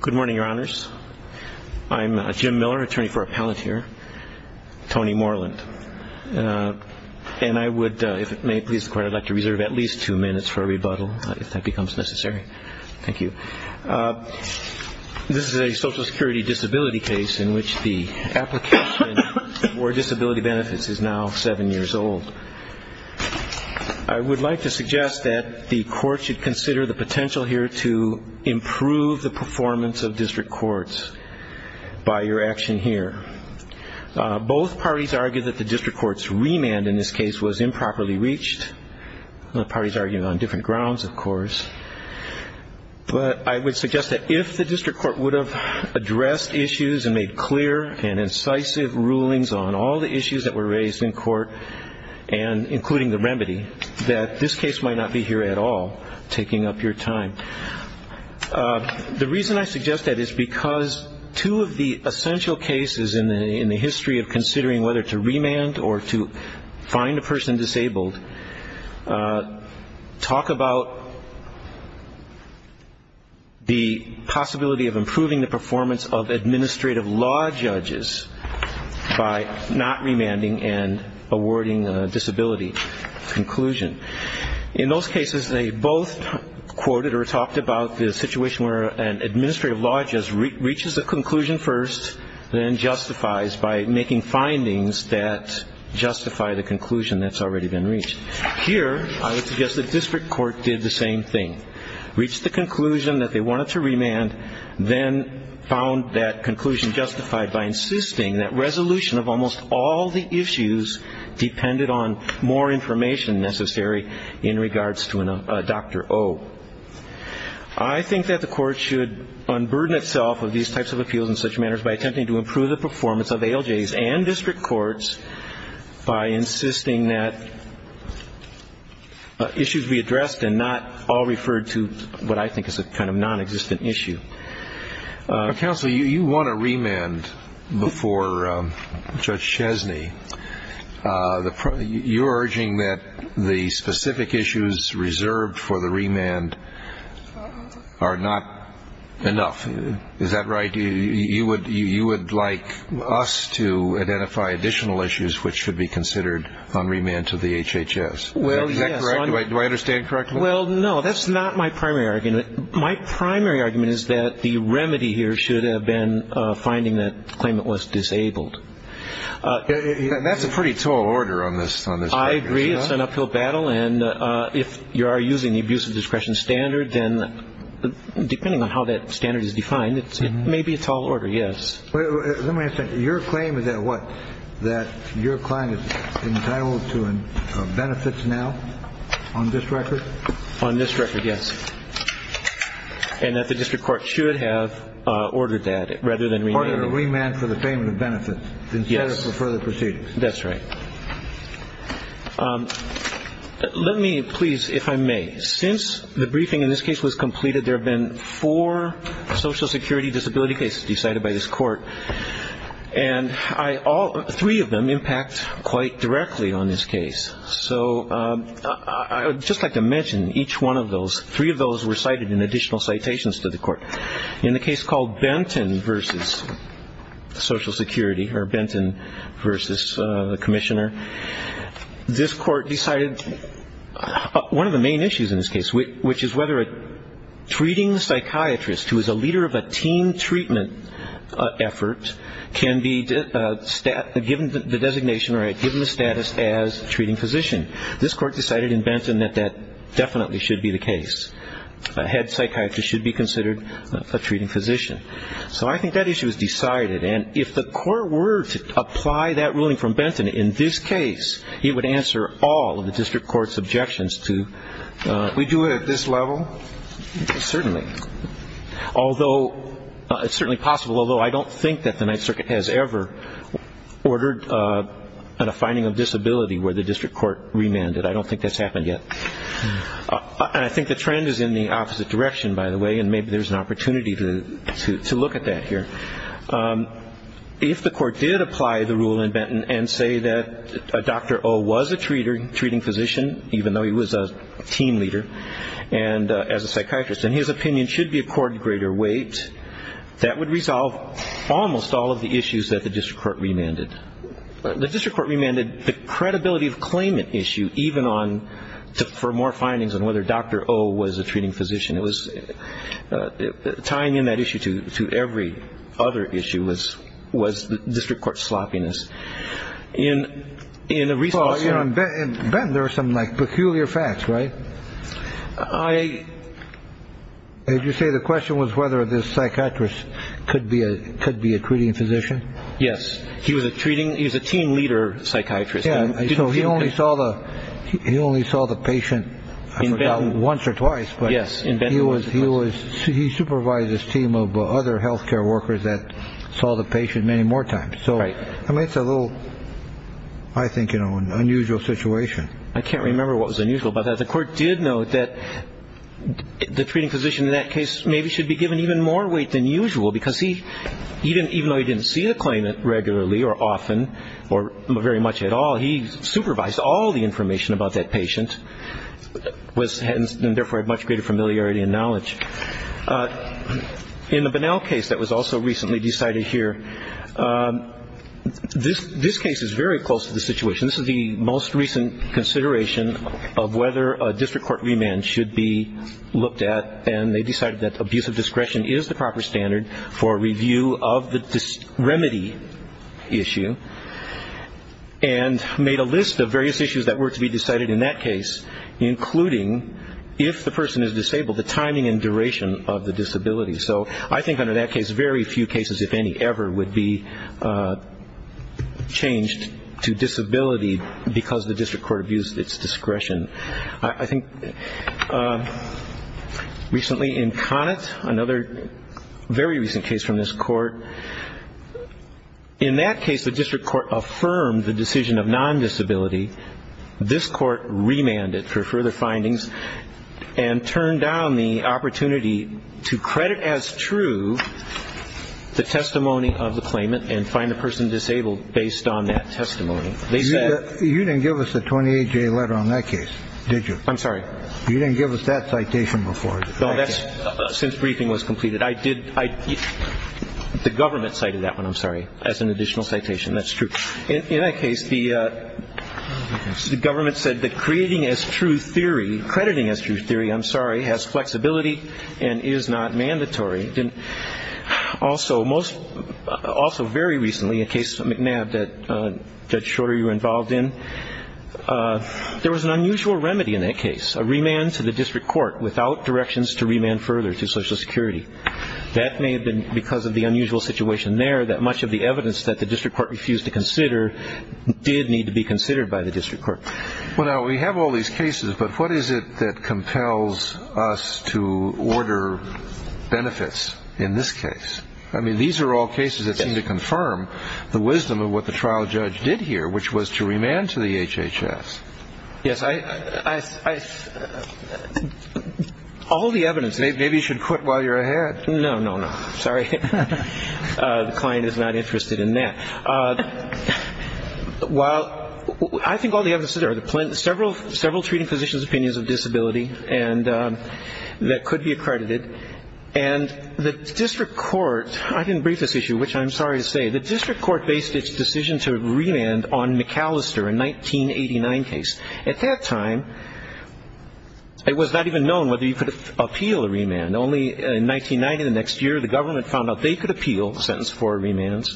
Good morning, Your Honors. I'm Jim Miller, attorney for Appellant here, Tony Moreland. And I would, if it may please the Court, I'd like to reserve at least two minutes for a rebuttal, if that becomes necessary. Thank you. This is a Social Security disability case in which the application for disability benefits is now seven years old. I would like to suggest that the Court should consider the potential here to improve the performance of district courts by your action here. Both parties argue that the district court's remand in this case was improperly reached. The parties argued on different grounds, of course. But I would suggest that if the district court would have addressed issues and made clear and incisive rulings on all the issues that were raised in court, including the remedy, that this case might not be here at all, taking up your time. The reason I suggest that is because two of the essential cases in the history of considering whether to remand or to find a person disabled talk about the possibility of improving the performance of administrative law judges by not awarding a disability conclusion. In those cases, they both quoted or talked about the situation where an administrative law judge reaches a conclusion first, then justifies by making findings that justify the conclusion that's already been reached. Here, I would suggest the district court did the same thing. Reached the conclusion that they wanted to remand, then found that conclusion justified by insisting that resolution of almost all the issues depended on more information necessary in regards to a Dr. O. I think that the court should unburden itself of these types of appeals in such manners by attempting to improve the performance of ALJs and district courts by insisting that issues be addressed and not all referred to what I think is a kind of nonexistent issue. Counsel, you want to remand before Judge Chesney. You're urging that the specific issues reserved for the remand are not enough. Is that right? You would like us to identify additional issues which should be considered on remand to the HHS. Is that correct? Do I understand correctly? Well, no. That's not my primary argument. My primary argument is that the remedy here should have been finding that the claimant was disabled. And that's a pretty tall order on this. I agree. It's an uphill battle. And if you are using the abuse of discretion standard, then depending on how that standard is defined, it may be a tall order. Yes. Let me ask you something. Your claim is that what? That your client is entitled to benefits now on this record? On this record, yes. And that the district court should have ordered that rather than remanding. Ordered a remand for the payment of benefits instead of for further proceedings. That's right. Let me please, if I may, since the briefing in this case was completed, there have been four Social Security disability cases decided by this court. And three of them impact quite directly on this case. So I would just like to mention each one of those, three of those were cited in additional citations to the court. In the case called Benton v. Social Security, or Benton v. Commissioner, this court decided one of the main issues in this case, which is whether a treating psychiatrist who is a leader of a team treatment effort can be given the designation or given the status as treating physician. This court decided in Benton that that definitely should be the case. A head psychiatrist should be considered a treating physician. So I think that issue is decided. And if the court were to apply that ruling from Benton in this case, it would answer all of the district court's objections to, we do it at this level? Certainly. Although, it's certainly possible, although I don't think that the Ninth Circuit has ever ordered a finding of disability where the district court remanded. I don't think that's happened yet. And I think the trend is in the opposite direction, by the way, and maybe there's an opportunity to look at that here. If the court did apply the rule in Benton and say that Dr. O was a treating physician, even though he was a team leader, and as a psychiatrist, and his opinion should be accorded greater weight, that would resolve almost all of the issues that the district court remanded. The district court remanded the credibility of claimant issue, even on, for more findings on whether Dr. O was a treating physician. It was tying in that other issue was the district court's sloppiness. In Benton, there are some peculiar facts, right? Did you say the question was whether this psychiatrist could be a treating physician? Yes, he was a treating, he was a team leader psychiatrist. He only saw the patient, I forgot, once or twice. He supervised his team of other health care workers that saw the patient many more times. I mean, it's a little, I think, an unusual situation. I can't remember what was unusual about that. The court did note that the treating physician in that case maybe should be given even more weight than usual because he, even though he didn't see the claimant regularly or often or very much at all, he supervised all the time, and he was a very good team leader. He was a very good team leader, and he had a great deal of credibility and knowledge. In the Bunnell case that was also recently decided here, this case is very close to the situation. This is the most recent consideration of whether a district court remand should be looked at, and they decided that abuse of discretion is the proper standard for review of the remedy issue, and made a list of various issues that were to be decided in that case, including, if the person is disabled, the timing and duration of the disability. So I think under that case, very few cases, if any, ever would be changed to disability because the district court abused its discretion. I think recently in Connett, another very recent case from this court, in that case, the district court affirmed the decision of non-disability. This court remanded for further findings and turned down the opportunity to credit as true the testimony of the claimant and find the person disabled based on that testimony. You didn't give us the 28-J letter on that case, did you? I'm sorry. You didn't give us that citation before. No, that's since briefing was completed. The government cited that one, I'm sorry, as an additional citation. That's true. In that case, the government said that creating as true theory, crediting as true theory, I'm sorry, has flexibility and is not mandatory. Also, very recently, a case, McNabb, that Judge Shorter, you were involved in, there was an unusual remedy in that case, a remand to the district court without directions to remand further to Social Security. That may have been because of the unusual situation there that much of the evidence that the district court refused to consider did need to be considered by the district court. Well, now, we have all these cases, but what is it that compels us to order benefits in this case? I mean, these are all cases that seem to confirm the wisdom of what the trial judge did here, which was to remand to the HHS. Yes. All the evidence. Maybe you should quit while you're ahead. No, no, no. Sorry. The client is not interested in that. Well, I think all the evidence is there. Several treating physicians' opinions of disability that could be accredited. And the district court, I didn't brief this issue, which I'm sorry to say, the district court based its decision to remand on McAllister, a 1989 case. At that time, it was not even known whether you could appeal a remand. Only in 1990, the next year, the government found out they could appeal a sentence for remands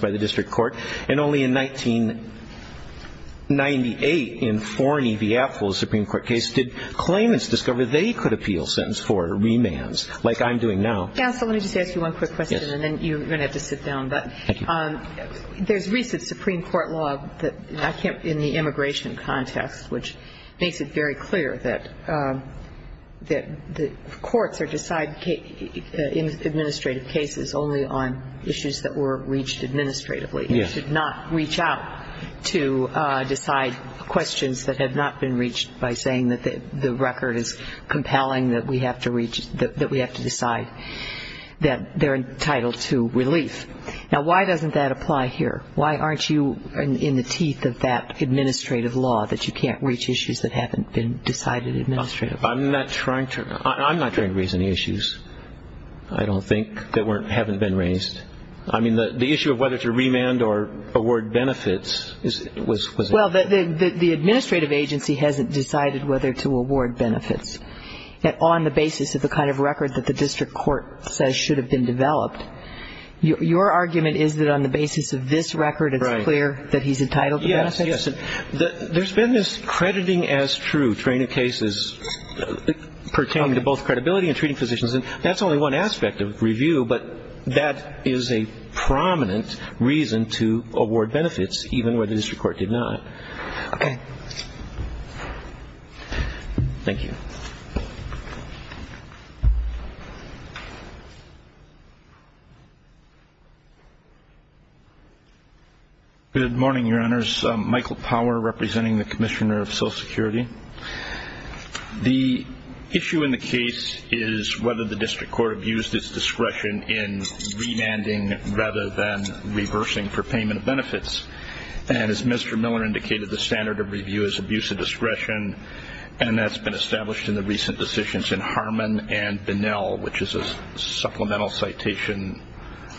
by the district court. And only in 1998, in Forney v. Apfel's Supreme Court case, did claimants discover they could appeal a sentence for remands, like I'm doing now. Counsel, let me just ask you one quick question, and then you're going to have to sit down. But there's recent Supreme Court law in the immigration context, which makes it very clear that the courts are deciding administrative cases only on issues that were reached administratively. You should not reach out to decide questions that have not been reached by saying that the record is compelling, that we have to decide that they're entitled to relief. Now, why doesn't that apply here? Why aren't you in the teeth of that administrative law, that you can't reach issues that haven't been decided administratively? I'm not trying to raise any issues, I don't think, that haven't been raised. I mean, the issue of whether to remand or award benefits was... Well, the administrative agency hasn't decided whether to award benefits. On the basis of the kind of record that the district court says should have been developed, your argument is that on the basis of this record it's clear that he's entitled to benefits? Yes, yes. There's been this crediting as true training cases pertaining to both credibility and treating physicians, and that's only one aspect of review, but that is a prominent reason to award benefits, even where the district court did not. Thank you. Good morning, Your Honors. Michael Power, representing the Commissioner of Social Security. The issue in the case is whether the district court abused its discretion in remanding rather than reversing for payment of benefits, and as Mr. Miller indicated, the standard of review is abuse of discretion, and that's been established in the recent decisions in Harmon and Bunnell, which is a supplemental citation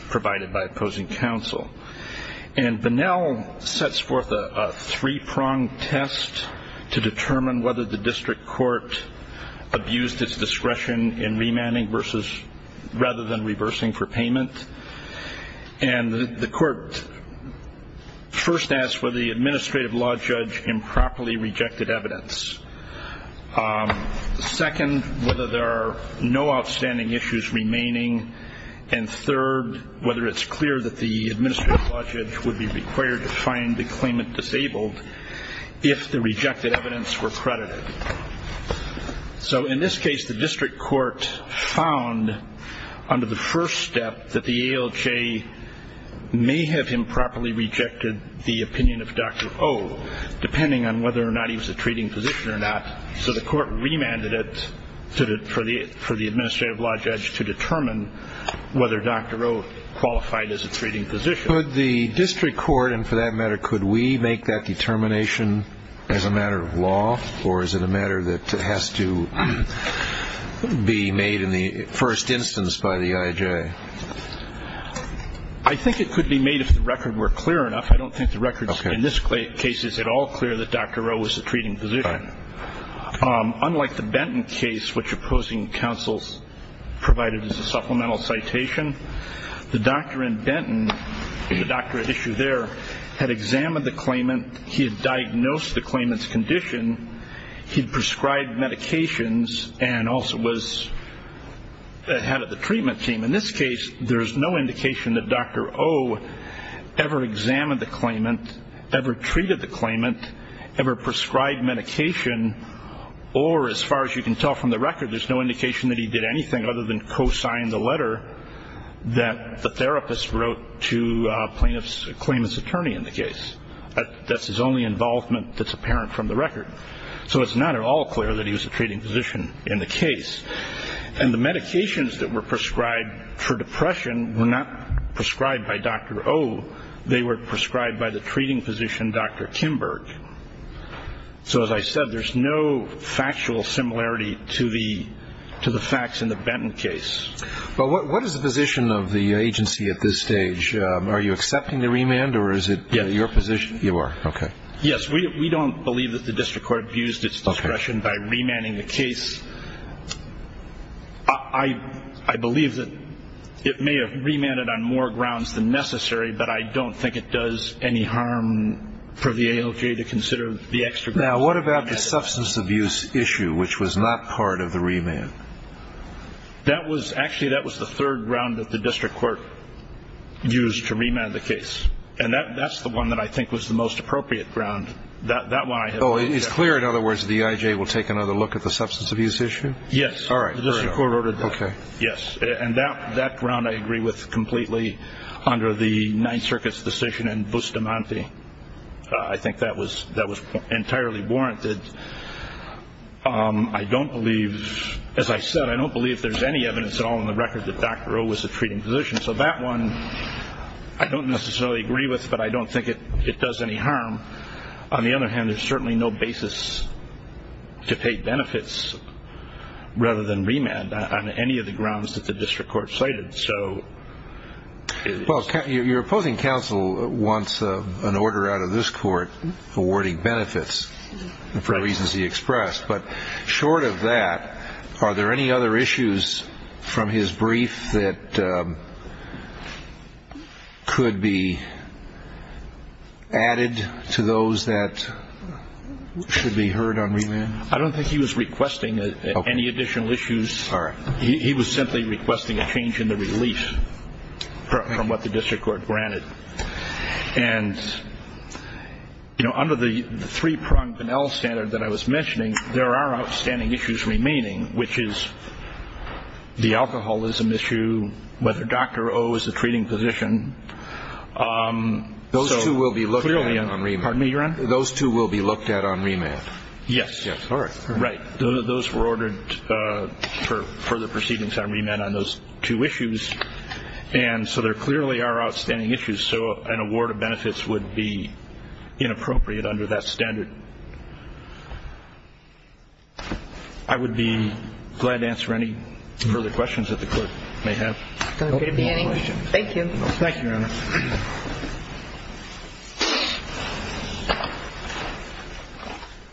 provided by opposing counsel. And Bunnell sets forth a three-pronged test to determine whether the district court abused its discretion in remanding rather than reversing for payment, and the court first asked whether the administrative law judge improperly rejected evidence. Second, whether there are no outstanding issues remaining, and third, whether it's clear that the administrative law judge would be required to find the claimant disabled if the rejected evidence were credited. So in this case, the district court found under the first step that the ALJ may have improperly rejected the opinion of Dr. O, depending on whether or not he was a treating physician or not, so the court remanded it for the administrative law judge to determine whether Dr. O qualified as a treating physician. Could the district court, and for that matter, could we make that determination as a matter of law, or is it a matter that has to be made in the first instance by the IJ? I think it could be made if the records were clear enough. I don't think the records in this case is at all clear that Dr. O was a treating physician. Unlike the Benton case, which opposing counsel provided as a supplemental citation, the doctor in Benton, the doctor at issue there, had examined the claimant. He had diagnosed the claimant's condition. He had prescribed medications and also was ahead of the treatment team. In this case, there is no indication that Dr. O ever examined the claimant, ever treated the claimant, ever prescribed medication, or as far as you can tell from the record, there's no indication that he did anything other than co-sign the letter that the therapist wrote to the claimant's attorney in the case. That's his only involvement that's apparent from the record. So it's not at all clear that he was a treating physician in the case. And the medications that were prescribed for depression were not prescribed by Dr. O. They were prescribed by the treating physician, Dr. Kimberg. So as I said, there's no factual similarity to the facts in the Benton case. Well, what is the position of the agency at this stage? Are you accepting the remand, or is it your position? You are, okay. Yes, we don't believe that the district court abused its discretion by remanding the case. I believe that it may have remanded on more grounds than necessary, but I don't think it does any harm for the ALJ to consider the extradition. Now, what about the substance abuse issue, which was not part of the remand? Actually, that was the third ground that the district court used to remand the case, and that's the one that I think was the most appropriate ground. Oh, it's clear, in other words, the EIJ will take another look at the substance abuse issue? Yes. All right. The district court ordered that. Okay. Yes, and that ground I agree with completely under the Ninth Circuit's decision in Bustamante. I think that was entirely warranted. I don't believe, as I said, I don't believe there's any evidence at all in the record that Dr. O was a treating physician, so that one I don't necessarily agree with, but I don't think it does any harm. On the other hand, there's certainly no basis to pay benefits rather than remand on any of the grounds that the district court cited. Well, your opposing counsel wants an order out of this court awarding benefits for reasons he expressed, but short of that, are there any other issues from his brief that could be added to those that should be heard on remand? I don't think he was requesting any additional issues. He was simply requesting a change in the relief from what the district court granted. And, you know, under the three-pronged Pennell standard that I was mentioning, there are outstanding issues remaining, which is the alcoholism issue, whether Dr. O is a treating physician. Those two will be looked at on remand. Pardon me, Your Honor? Those two will be looked at on remand. Yes. Yes. All right. Right. Those were ordered for further proceedings on remand on those two issues. And so there clearly are outstanding issues. So an award of benefits would be inappropriate under that standard. I would be glad to answer any further questions that the Court may have. Okay. Thank you. Thank you, Your Honor.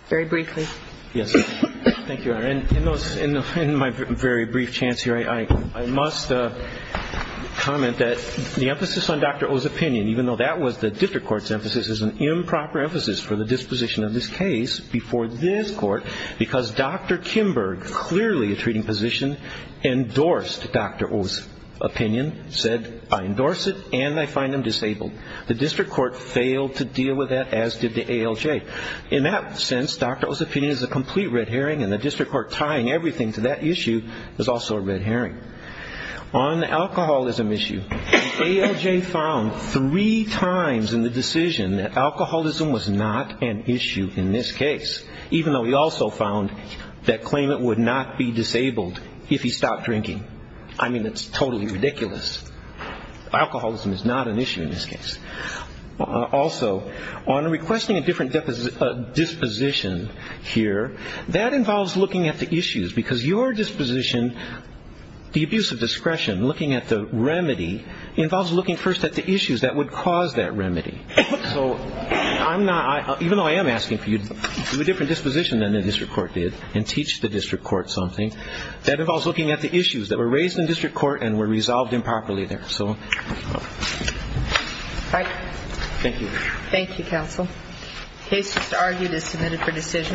Very briefly. Yes. Thank you, Your Honor. In my very brief chance here, I must comment that the emphasis on Dr. O's opinion, even though that was the district court's emphasis, is an improper emphasis for the disposition of this case before this court because Dr. Kimberg, clearly a treating physician, endorsed Dr. O's opinion, said, I endorse it and I find him disabled. The district court failed to deal with that, as did the ALJ. In that sense, Dr. O's opinion is a complete red herring and the district court tying everything to that issue is also a red herring. On the alcoholism issue, the ALJ found three times in the decision that alcoholism was not an issue in this case, even though he also found that claimant would not be disabled if he stopped drinking. I mean, it's totally ridiculous. Alcoholism is not an issue in this case. Also, on requesting a different disposition here, that involves looking at the issues because your disposition, the abuse of discretion, looking at the remedy, involves looking first at the issues that would cause that remedy. So even though I am asking for you to do a different disposition than the district court did and teach the district court something, that involves looking at the issues that were raised in district court and were resolved improperly there. So, thank you. Thank you, counsel. Case just argued is submitted for decision.